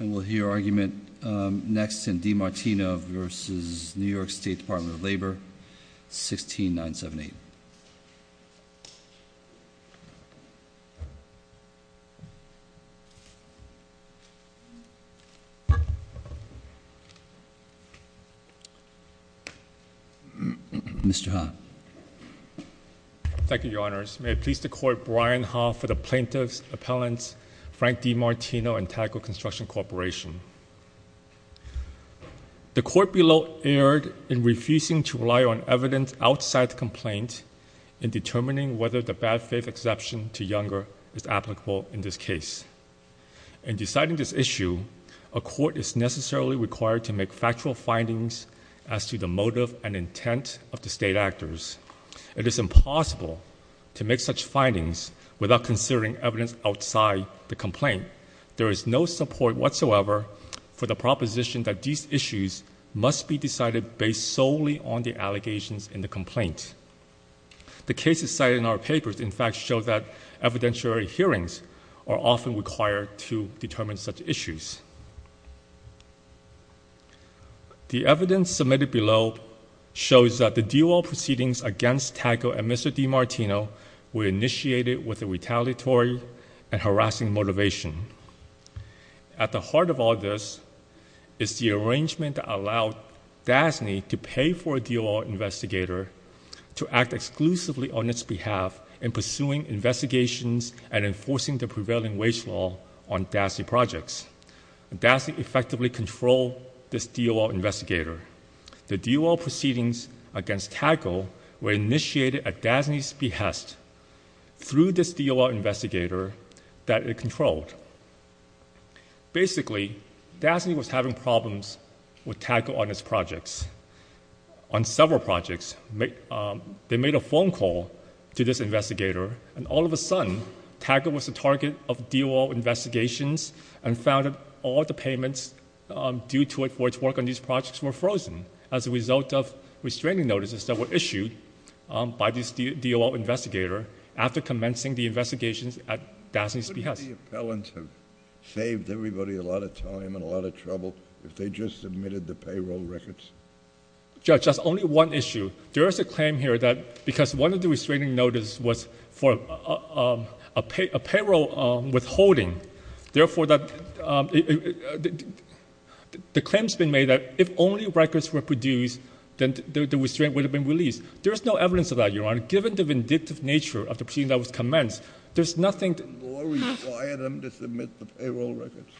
And we'll hear argument next in DeMartino versus New York State Department of Labor, 16978. Mr. Han. Thank you, Your Honors. May it please the Court, Brian Ha for the Plaintiff's Appellants, Frank DeMartino and Taggart Construction Corporation. The Court below erred in refusing to rely on evidence outside the complaint in determining whether the bad faith exception to Younger is applicable in this case. In deciding this issue, a court is necessarily required to make factual findings as to the motive and intent of the state actors. It is impossible to make such findings without considering evidence outside the complaint. There is no support whatsoever for the proposition that these issues must be decided based solely on the allegations in the complaint. The cases cited in our papers, in fact, show that evidentiary hearings are often required to determine such issues. The evidence submitted below shows that the DOL proceedings against Taggart and Mr. DeMartino were initiated with a retaliatory and harassing motivation. At the heart of all this is the arrangement that allowed DASNY to pay for a DOL investigator to act exclusively on its behalf in pursuing investigations and enforcing the prevailing wage law on DASNY projects. DASNY effectively controlled this DOL investigator. The DOL proceedings against Taggart were initiated at DASNY's behest through this DOL investigator that it controlled. Basically, DASNY was having problems with Taggart on its projects, on several projects. They made a phone call to this investigator, and all of a sudden, Taggart was the target of DOL investigations and found that all the payments due to its work on these projects were frozen as a result of restraining notices that were issued by this DOL investigator after commencing the investigations at DASNY's behest. Wouldn't the appellants have saved everybody a lot of time and a lot of trouble if they just submitted the payroll records? Judge, that's only one issue. There is a claim here that because one of the restraining notices was for a payroll withholding, therefore, the claim has been made that if only records were produced, then the restraint would have been released. There is no evidence of that, Your Honor. Given the vindictive nature of the proceeding that was commenced, there's nothing— Did the law require them to submit the payroll records?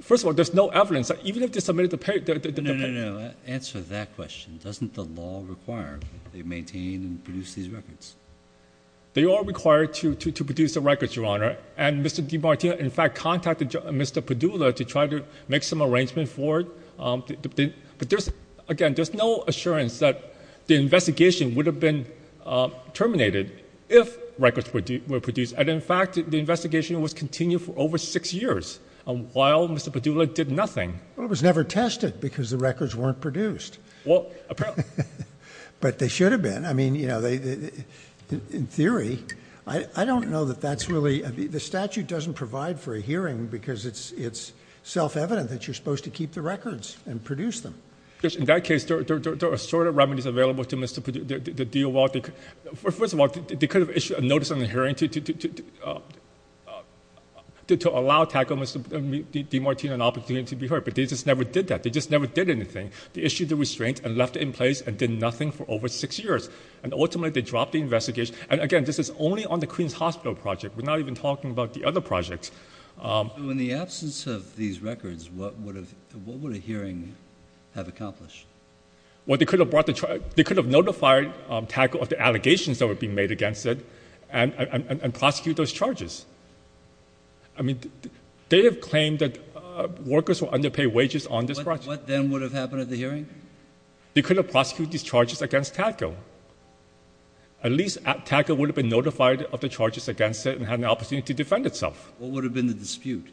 First of all, there's no evidence. No, no, no. Answer that question. Doesn't the law require that they maintain and produce these records? They are required to produce the records, Your Honor. And Mr. DiMartino, in fact, contacted Mr. Padula to try to make some arrangements for it. Again, there's no assurance that the investigation would have been terminated if records were produced. And, in fact, the investigation was continued for over six years while Mr. Padula did nothing. Well, it was never tested because the records weren't produced. Well, apparently— But they should have been. I mean, you know, in theory, I don't know that that's really— The statute doesn't provide for a hearing because it's self-evident that you're supposed to keep the records and produce them. In that case, there are assorted remedies available to Mr. Padula. First of all, they could have issued a notice in the hearing to allow—tackle Mr. DiMartino an opportunity to be heard. But they just never did that. They just never did anything. They issued the restraints and left it in place and did nothing for over six years. And, ultimately, they dropped the investigation. And, again, this is only on the Queens Hospital project. We're not even talking about the other projects. So, in the absence of these records, what would a hearing have accomplished? Well, they could have notified—tackle the allegations that were being made against it and prosecute those charges. I mean, they have claimed that workers were underpaid wages on this project. What then would have happened at the hearing? They could have prosecuted these charges against tackle. At least tackle would have been notified of the charges against it and had an opportunity to defend itself. What would have been the dispute?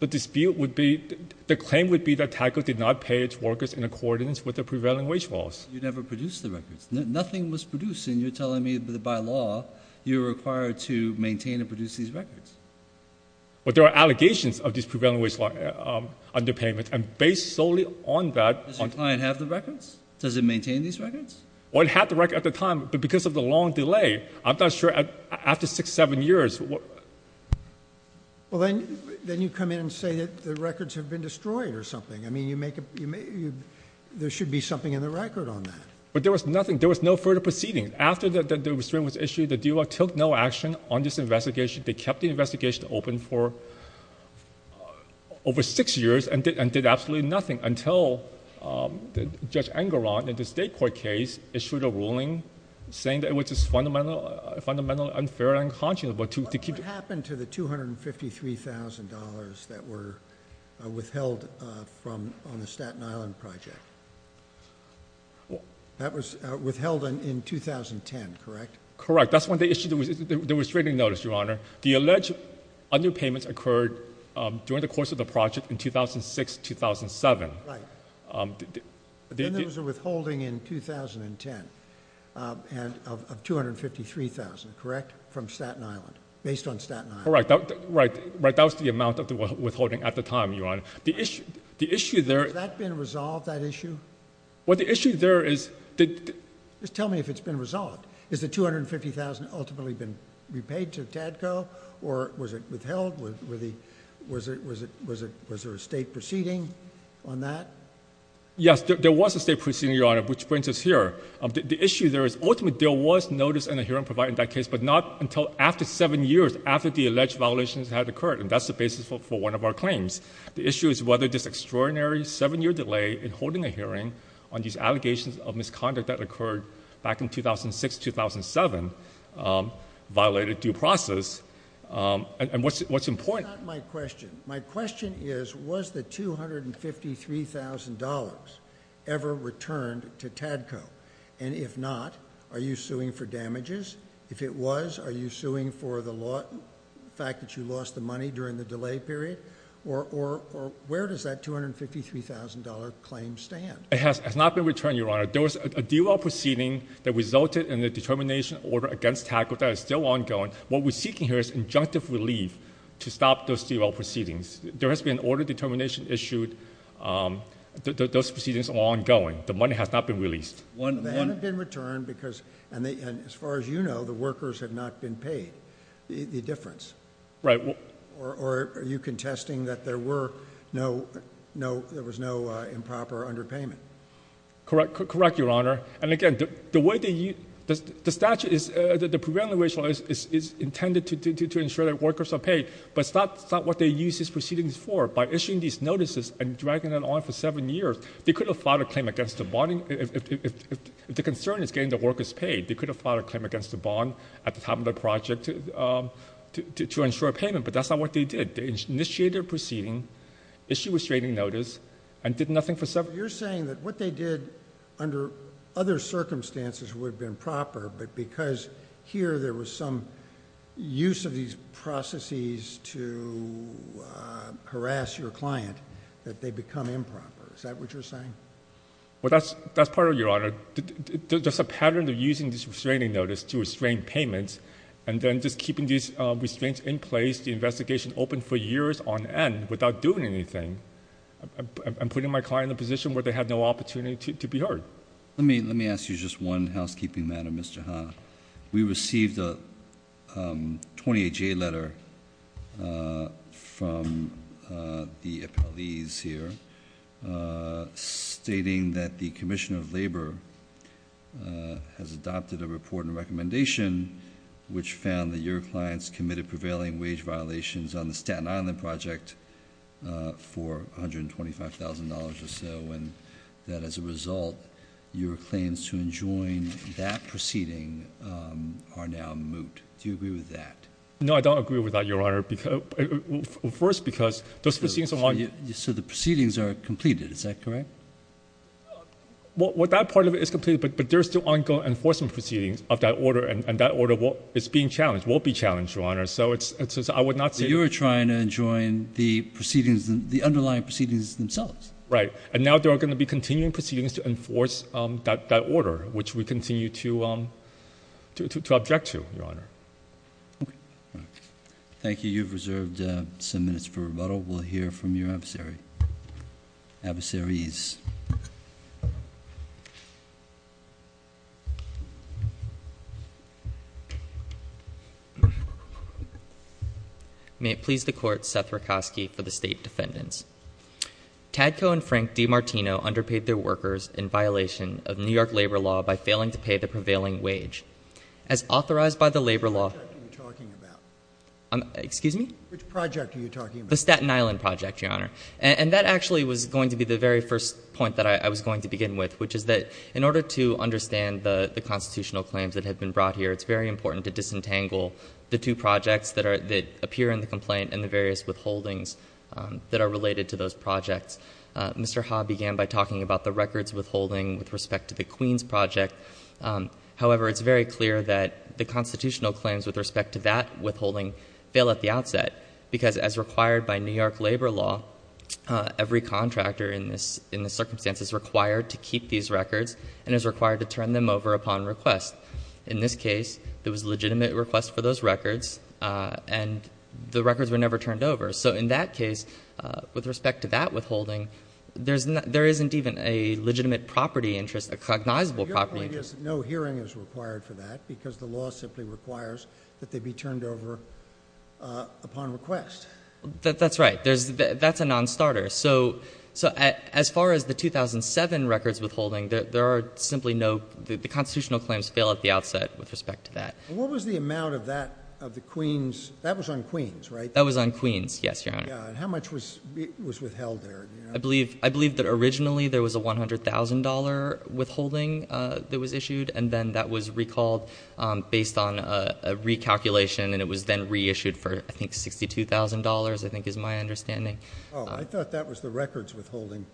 The dispute would be—the claim would be that tackle did not pay its workers in accordance with the prevailing wage laws. You never produced the records. Nothing was produced. And you're telling me that, by law, you're required to maintain and produce these records. But there are allegations of this prevailing wage law underpayment. And based solely on that— Does your client have the records? Does it maintain these records? Well, it had the records at the time. But because of the long delay, I'm not sure—after six, seven years, what— Well, then you come in and say that the records have been destroyed or something. I mean, you make—there should be something in the record on that. But there was nothing. There was no further proceeding. After the restraint was issued, the DUI took no action on this investigation. They kept the investigation open for over six years and did absolutely nothing until Judge Engelrod in the state court case issued a ruling saying that it was fundamentally unfair and unconscionable to keep— What happened to the $253,000 that were withheld from—on the Staten Island Project? That was withheld in 2010, correct? Correct. That's when they issued the restraining notice, Your Honor. The alleged underpayments occurred during the course of the project in 2006, 2007. Right. Then there was a withholding in 2010 of $253,000, correct, from Staten Island, based on Staten Island. Right. That was the amount of the withholding at the time, Your Honor. The issue there— Has that been resolved, that issue? Well, the issue there is— Just tell me if it's been resolved. Has the $250,000 ultimately been repaid to Tadco, or was it withheld? Was there a state proceeding on that? Yes, there was a state proceeding, Your Honor, which brings us here. The issue there is—ultimately, there was notice and a hearing provided in that case, but not until after seven years after the alleged violations had occurred, and that's the basis for one of our claims. The issue is whether this extraordinary seven-year delay in holding a hearing on these allegations of misconduct that occurred back in 2006, 2007 violated due process, and what's important— That's not my question. My question is, was the $253,000 ever returned to Tadco? And if not, are you suing for damages? If it was, are you suing for the fact that you lost the money during the delay period? Or where does that $253,000 claim stand? It has not been returned, Your Honor. There was a DOL proceeding that resulted in the determination order against Tadco that is still ongoing. What we're seeking here is injunctive relief to stop those DOL proceedings. There has been an order of determination issued. Those proceedings are ongoing. The money has not been released. None have been returned because—and as far as you know, the workers have not been paid. The difference. Right. Or are you contesting that there was no improper underpayment? Correct, Your Honor. And, again, the way they use—the statute is—the preventative measure is intended to ensure that workers are paid, but that's not what they use these proceedings for. By issuing these notices and dragging it on for seven years, they could have filed a claim against the bonding—if the concern is getting the workers paid, they could have filed a claim against the bond at the time of the project to ensure payment, but that's not what they did. They initiated a proceeding, issued a restraining notice, and did nothing for several years. Is that what you're saying? Well, that's part of it, Your Honor. There's a pattern of using this restraining notice to restrain payments, and then just keeping these restraints in place, the investigation open for years on end without doing anything, and putting my client in a position where they have no opportunity to be heard. Let me ask you just one housekeeping matter, Mr. Hahn. We received a 28-J letter from the appellees here stating that the Commissioner of Labor has adopted a report and recommendation which found that your clients committed prevailing wage violations on the Staten Island project for $125,000 or so, and that as a result, your claims to enjoin that proceeding are now moot. Do you agree with that? No, I don't agree with that, Your Honor. First, because those proceedings— So the proceedings are completed, is that correct? Well, that part of it is completed, but there are still ongoing enforcement proceedings of that order, and that order is being challenged, will be challenged, Your Honor. So I would not say— But you are trying to enjoin the proceedings, the underlying proceedings themselves. Right, and now there are going to be continuing proceedings to enforce that order, which we continue to object to, Your Honor. Okay. Thank you. You've reserved some minutes for rebuttal. We'll hear from your adversaries. May it please the Court, Seth Rakosky for the State Defendants. Tadko and Frank DiMartino underpaid their workers in violation of New York labor law by failing to pay the prevailing wage. As authorized by the labor law— Which project are you talking about? Excuse me? Which project are you talking about? The Staten Island project, Your Honor. And that actually was going to be the very first point that I was going to begin with, which is that in order to understand the constitutional claims that have been brought here, it's very important to disentangle the two projects that appear in the complaint and the various withholdings that are related to those projects. Mr. Ha began by talking about the records withholding with respect to the Queens project. However, it's very clear that the constitutional claims with respect to that withholding fail at the outset, because as required by New York labor law, every contractor in this circumstance is required to keep these records and is required to turn them over upon request. In this case, there was a legitimate request for those records, and the records were never turned over. So in that case, with respect to that withholding, there isn't even a legitimate property interest, a cognizable property interest. Your point is that no hearing is required for that, because the law simply requires that they be turned over upon request. That's right. That's a nonstarter. So as far as the 2007 records withholding, the constitutional claims fail at the outset with respect to that. What was the amount of that of the Queens? That was on Queens, right? That was on Queens, yes, Your Honor. And how much was withheld there? I believe that originally there was a $100,000 withholding that was issued, and then that was recalled based on a recalculation, and it was then reissued for, I think, $62,000, I think is my understanding. Oh, I thought that was the records withholding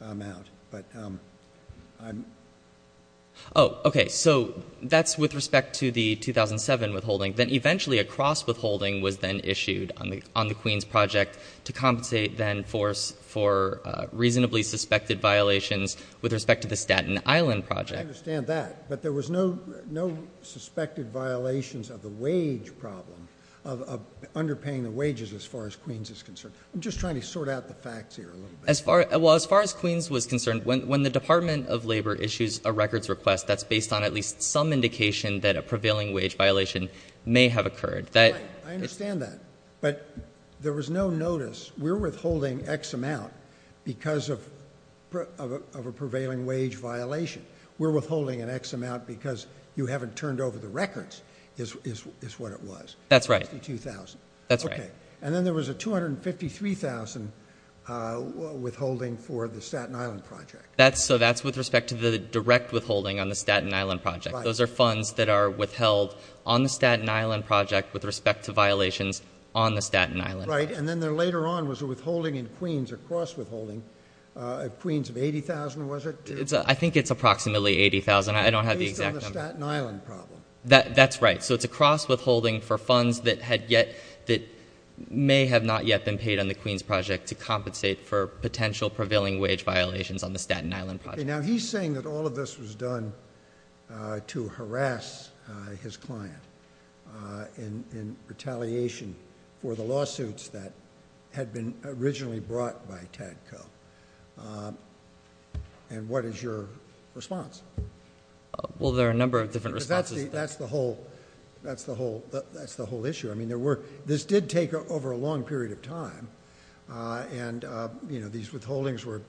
amount, but I'm... Oh, okay. So that's with respect to the 2007 withholding. Then eventually a cross-withholding was then issued on the Queens project to compensate then for reasonably suspected violations with respect to the Staten Island project. I understand that, but there was no suspected violations of the wage problem, of underpaying the wages as far as Queens is concerned. I'm just trying to sort out the facts here a little bit. Well, as far as Queens was concerned, when the Department of Labor issues a records request, that's based on at least some indication that a prevailing wage violation may have occurred. Right. I understand that. But there was no notice. We're withholding X amount because of a prevailing wage violation. We're withholding an X amount because you haven't turned over the records is what it was. That's right. $62,000. That's right. Okay. And then there was a $253,000 withholding for the Staten Island project. So that's with respect to the direct withholding on the Staten Island project. Right. Those are funds that are withheld on the Staten Island project with respect to violations on the Staten Island project. Right. And then there later on was a withholding in Queens, a cross-withholding of Queens of $80,000, was it? I think it's approximately $80,000. I don't have the exact number. At least on the Staten Island problem. That's right. So it's a cross-withholding for funds that may have not yet been paid on the Queens project to compensate for potential prevailing wage violations on the Staten Island project. Now, he's saying that all of this was done to harass his client in retaliation for the lawsuits that had been originally brought by Tadco. And what is your response? Well, there are a number of different responses. That's the whole issue. I mean, this did take over a long period of time. And these withholdings were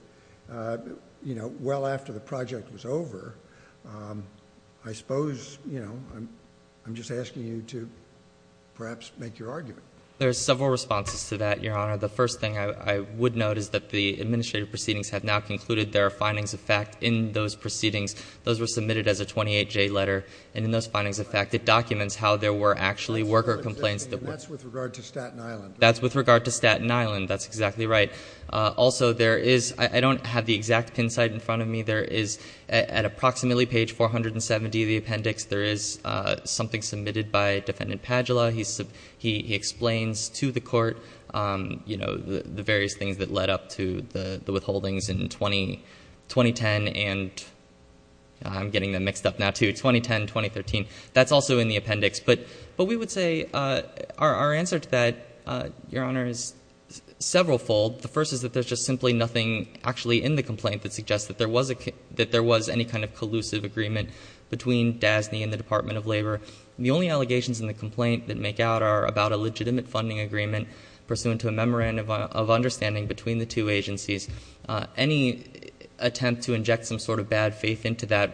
well after the project was over. I suppose I'm just asking you to perhaps make your argument. There are several responses to that, Your Honor. The first thing I would note is that the administrative proceedings have now concluded. There are findings of fact in those proceedings. Those were submitted as a 28-J letter. And in those findings of fact, it documents how there were actually worker complaints. That's with regard to Staten Island. That's with regard to Staten Island. That's exactly right. Also, there is ‑‑ I don't have the exact pin site in front of me. There is at approximately page 470 of the appendix, there is something submitted by Defendant Padula. He explains to the court, you know, the various things that led up to the withholdings in 2010. I'm getting them mixed up now, too. 2010, 2013. That's also in the appendix. But we would say our answer to that, Your Honor, is severalfold. The first is that there's just simply nothing actually in the complaint that suggests that there was any kind of collusive agreement between DASNY and the Department of Labor. The only allegations in the complaint that make out are about a legitimate funding agreement pursuant to a memorandum of understanding between the two agencies. Any attempt to inject some sort of bad faith into that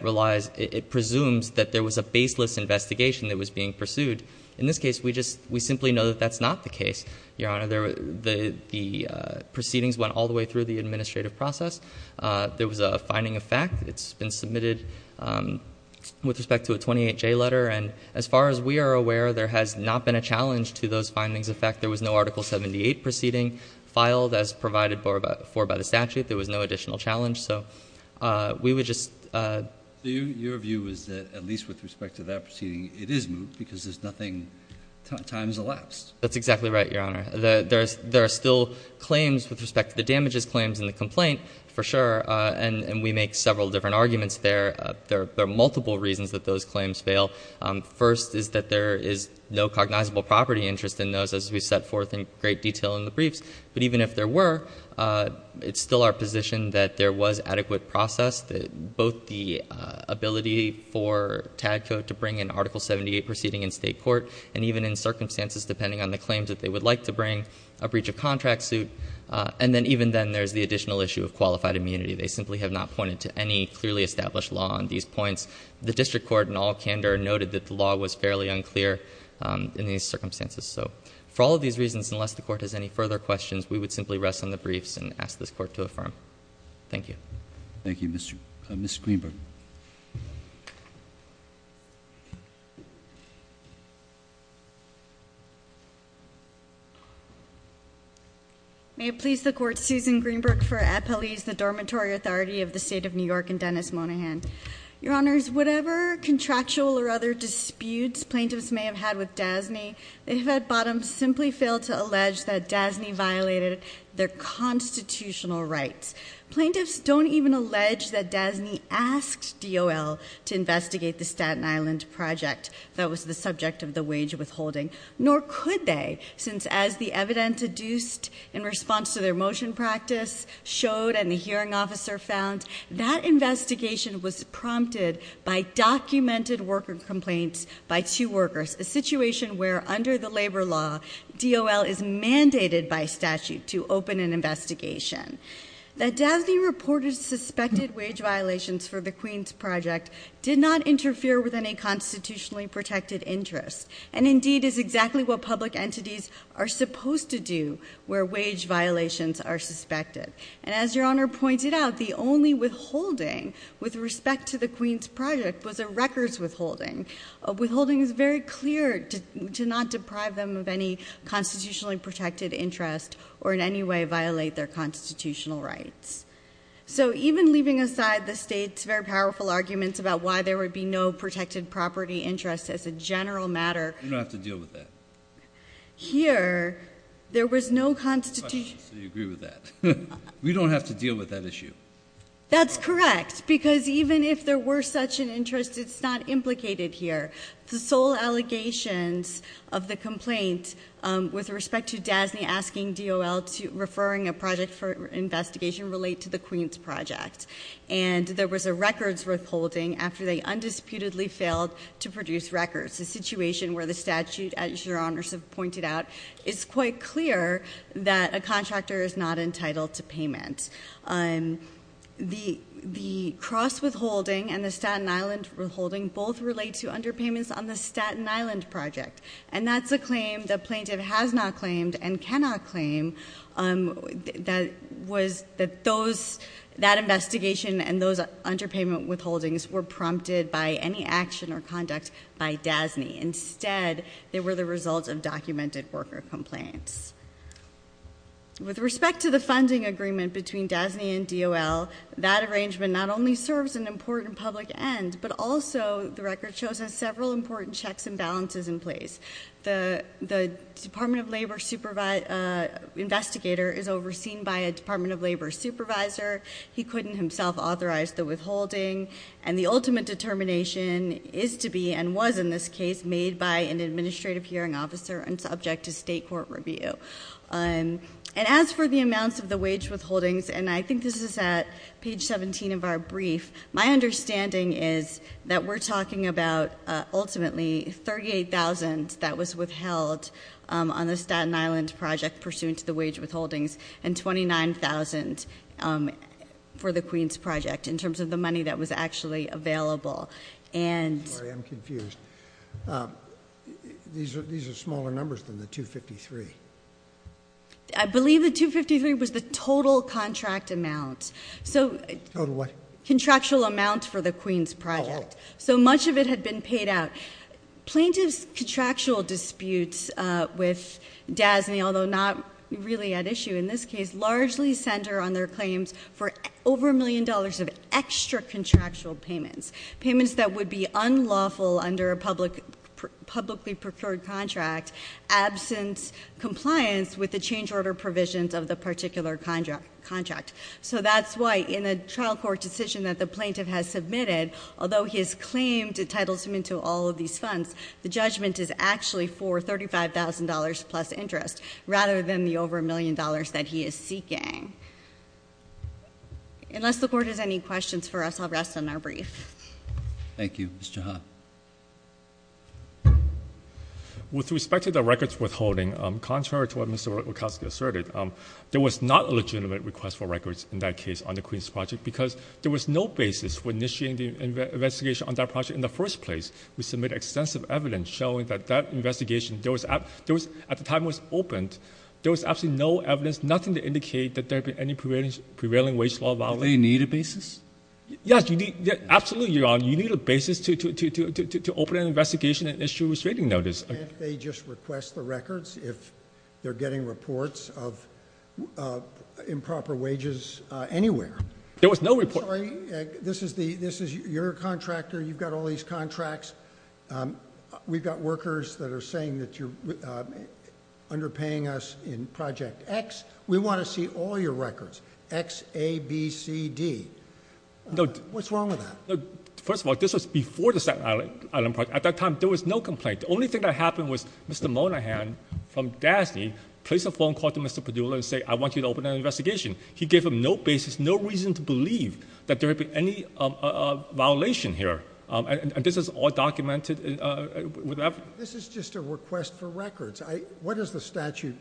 presumes that there was a baseless investigation that was being pursued. In this case, we simply know that that's not the case, Your Honor. The proceedings went all the way through the administrative process. There was a finding of fact. It's been submitted with respect to a 28J letter. And as far as we are aware, there has not been a challenge to those findings of fact. There was no Article 78 proceeding filed as provided for by the statute. There was no additional challenge. So we would just. Your view is that at least with respect to that proceeding, it is moot because there's nothing times elapsed. That's exactly right, Your Honor. There are still claims with respect to the damages claims in the complaint, for sure. And we make several different arguments there. There are multiple reasons that those claims fail. First is that there is no cognizable property interest in those as we set forth in great detail in the briefs. But even if there were, it's still our position that there was adequate process, both the ability for Tadco to bring an Article 78 proceeding in state court, and even in circumstances depending on the claims that they would like to bring, a breach of contract suit. And then even then, there's the additional issue of qualified immunity. They simply have not pointed to any clearly established law on these points. The district court in all candor noted that the law was fairly unclear in these circumstances. So for all of these reasons, unless the court has any further questions, we would simply rest on the briefs and ask this court to affirm. Thank you. Thank you, Mr. Greenberg. May it please the court, Susan Greenberg for Epeliz, the Dormitory Authority of the State of New York and Dennis Monahan. Your Honors, whatever contractual or other disputes plaintiffs may have had with DASNY, they have at bottom simply failed to allege that DASNY violated their constitutional rights. Plaintiffs don't even allege that DASNY asked DOL to investigate the Staten Island project that was the subject of the wage withholding. Nor could they, since as the evidence deduced in response to their motion practice showed and the hearing officer found, that investigation was prompted by documented worker complaints by two workers. A situation where under the labor law, DOL is mandated by statute to open an investigation. That DASNY reported suspected wage violations for the Queen's project did not interfere with any constitutionally protected interest. And indeed is exactly what public entities are supposed to do where wage violations are suspected. And as your honor pointed out, the only withholding with respect to the Queen's project was a records withholding. A withholding is very clear to not deprive them of any constitutionally protected interest or in any way violate their constitutional rights. So even leaving aside the state's very powerful arguments about why there would be no protected property interest as a general matter. You don't have to deal with that. Here, there was no constitution. So you agree with that. We don't have to deal with that issue. That's correct, because even if there were such an interest, it's not implicated here. The sole allegations of the complaint with respect to DASNY asking DOL to referring a project for investigation relate to the Queen's project. And there was a records withholding after they undisputedly failed to produce records. It's a situation where the statute, as your honors have pointed out, is quite clear that a contractor is not entitled to payment. The cross withholding and the Staten Island withholding both relate to underpayments on the Staten Island project. And that's a claim the plaintiff has not claimed and cannot claim that investigation and those underpayment withholdings were prompted by any action or DASNY. Instead, they were the result of documented worker complaints. With respect to the funding agreement between DASNY and DOL, that arrangement not only serves an important public end, but also the record shows has several important checks and balances in place. The Department of Labor investigator is overseen by a Department of Labor supervisor. He couldn't himself authorize the withholding. And the ultimate determination is to be, and was in this case, made by an administrative hearing officer and subject to state court review. And as for the amounts of the wage withholdings, and I think this is at page 17 of our brief, my understanding is that we're talking about ultimately 38,000 that was withheld on the Staten Island project pursuant to the wage withholdings and 29,000 for the Queens project in terms of the money that was actually available. I'm confused. These are smaller numbers than the 253. I believe the 253 was the total contract amount. Total what? Contractual amount for the Queens project. Oh. So much of it had been paid out. Plaintiff's contractual disputes with DASNY, although not really at issue in this case, largely center on their claims for over a million dollars of extra contractual payments. Payments that would be unlawful under a publicly procured contract, absent compliance with the change order provisions of the particular contract. So that's why in a trial court decision that the plaintiff has submitted, although his claim titles him into all of these funds, the judgment is actually for $35,000 plus interest, rather than the over a million dollars that he is seeking. Unless the Court has any questions for us, I'll rest on my brief. Thank you. Mr. Ha. With respect to the records withholding, contrary to what Mr. Wachowski asserted, there was not a legitimate request for records in that case on the Queens project because there was no basis for initiating the investigation on that project in the first place. We submitted extensive evidence showing that that investigation, at the time it was opened, there was absolutely no evidence, nothing to indicate that there had been any prevailing wage law violation. Do they need a basis? Yes, absolutely, Your Honor. You need a basis to open an investigation and issue a restraining notice. Can't they just request the records if they're getting reports of improper wages anywhere? There was no report. I'm sorry. This is your contractor. You've got all these contracts. We've got workers that are saying that you're underpaying us in Project X. We want to see all your records, X, A, B, C, D. What's wrong with that? First of all, this was before the Second Island project. At that time, there was no complaint. The only thing that happened was Mr. Monahan from DASNY placed a phone call to Mr. Padula and said, I want you to open an investigation. He gave him no basis, no reason to believe that there had been any violation here. And this is all documented. This is just a request for records. What does the statute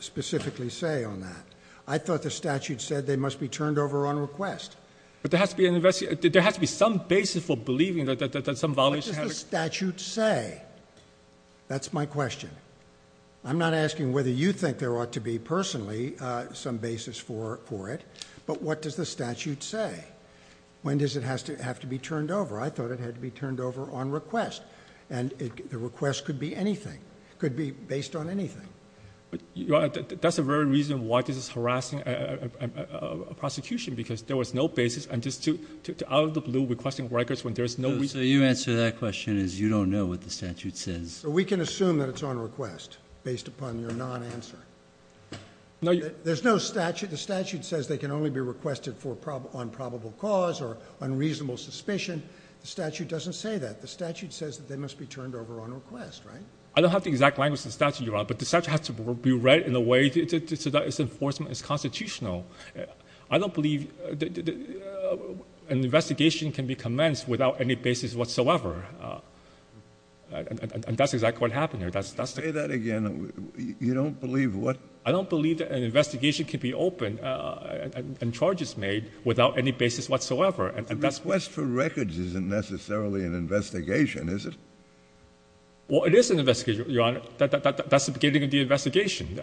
specifically say on that? I thought the statute said they must be turned over on request. But there has to be some basis for believing that some violation happened. What does the statute say? That's my question. I'm not asking whether you think there ought to be, personally, some basis for it. But what does the statute say? When does it have to be turned over? I thought it had to be turned over on request. And the request could be anything. It could be based on anything. That's the very reason why this is harassing a prosecution, because there was no basis. I'm just out of the blue requesting records when there's no reason. So your answer to that question is you don't know what the statute says. So we can assume that it's on request based upon your non-answer. There's no statute. The statute says they can only be requested on probable cause or unreasonable suspicion. The statute doesn't say that. The statute says that they must be turned over on request, right? I don't have the exact language of the statute, Your Honor. But the statute has to be read in a way so that its enforcement is constitutional. I don't believe an investigation can be commenced without any basis whatsoever. And that's exactly what happened here. Say that again. You don't believe what? I don't believe that an investigation can be opened and charges made without any basis whatsoever. A request for records isn't necessarily an investigation, is it? Well, it is an investigation, Your Honor. That's the beginning of the investigation.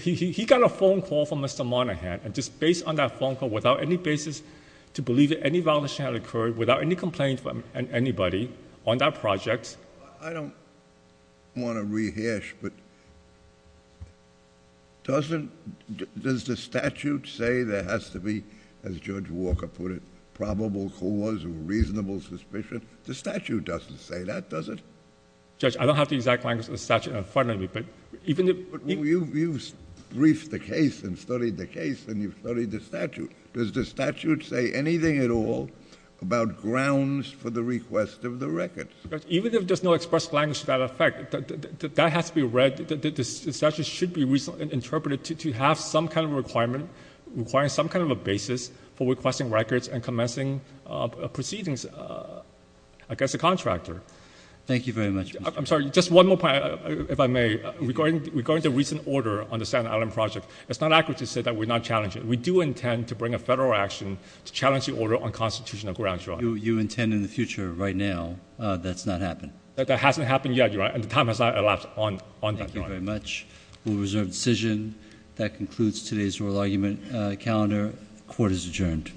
He got a phone call from Mr. Monaghan, and just based on that phone call, to believe that any violation had occurred without any complaint from anybody on that project. I don't want to rehash, but does the statute say there has to be, as Judge Walker put it, probable cause or reasonable suspicion? The statute doesn't say that, does it? Judge, I don't have the exact language of the statute in front of me. You've briefed the case and studied the case, and you've studied the statute. Does the statute say anything at all about grounds for the request of the records? Even if there's no express language to that effect, that has to be read. The statute should be interpreted to have some kind of requirement, requiring some kind of a basis for requesting records and commencing proceedings, I guess, a contractor. Thank you very much, Mr. Just one more point, if I may. Regarding the recent order on the Staten Island project, it's not accurate to say that we're not challenging it. We do intend to bring a federal action to challenge the order on constitutional grounds, Your Honor. You intend in the future, right now, that's not happening? That hasn't happened yet, Your Honor, and the time has not elapsed on that, Your Honor. Thank you very much. We'll reserve the decision. That concludes today's oral argument calendar. Court is adjourned.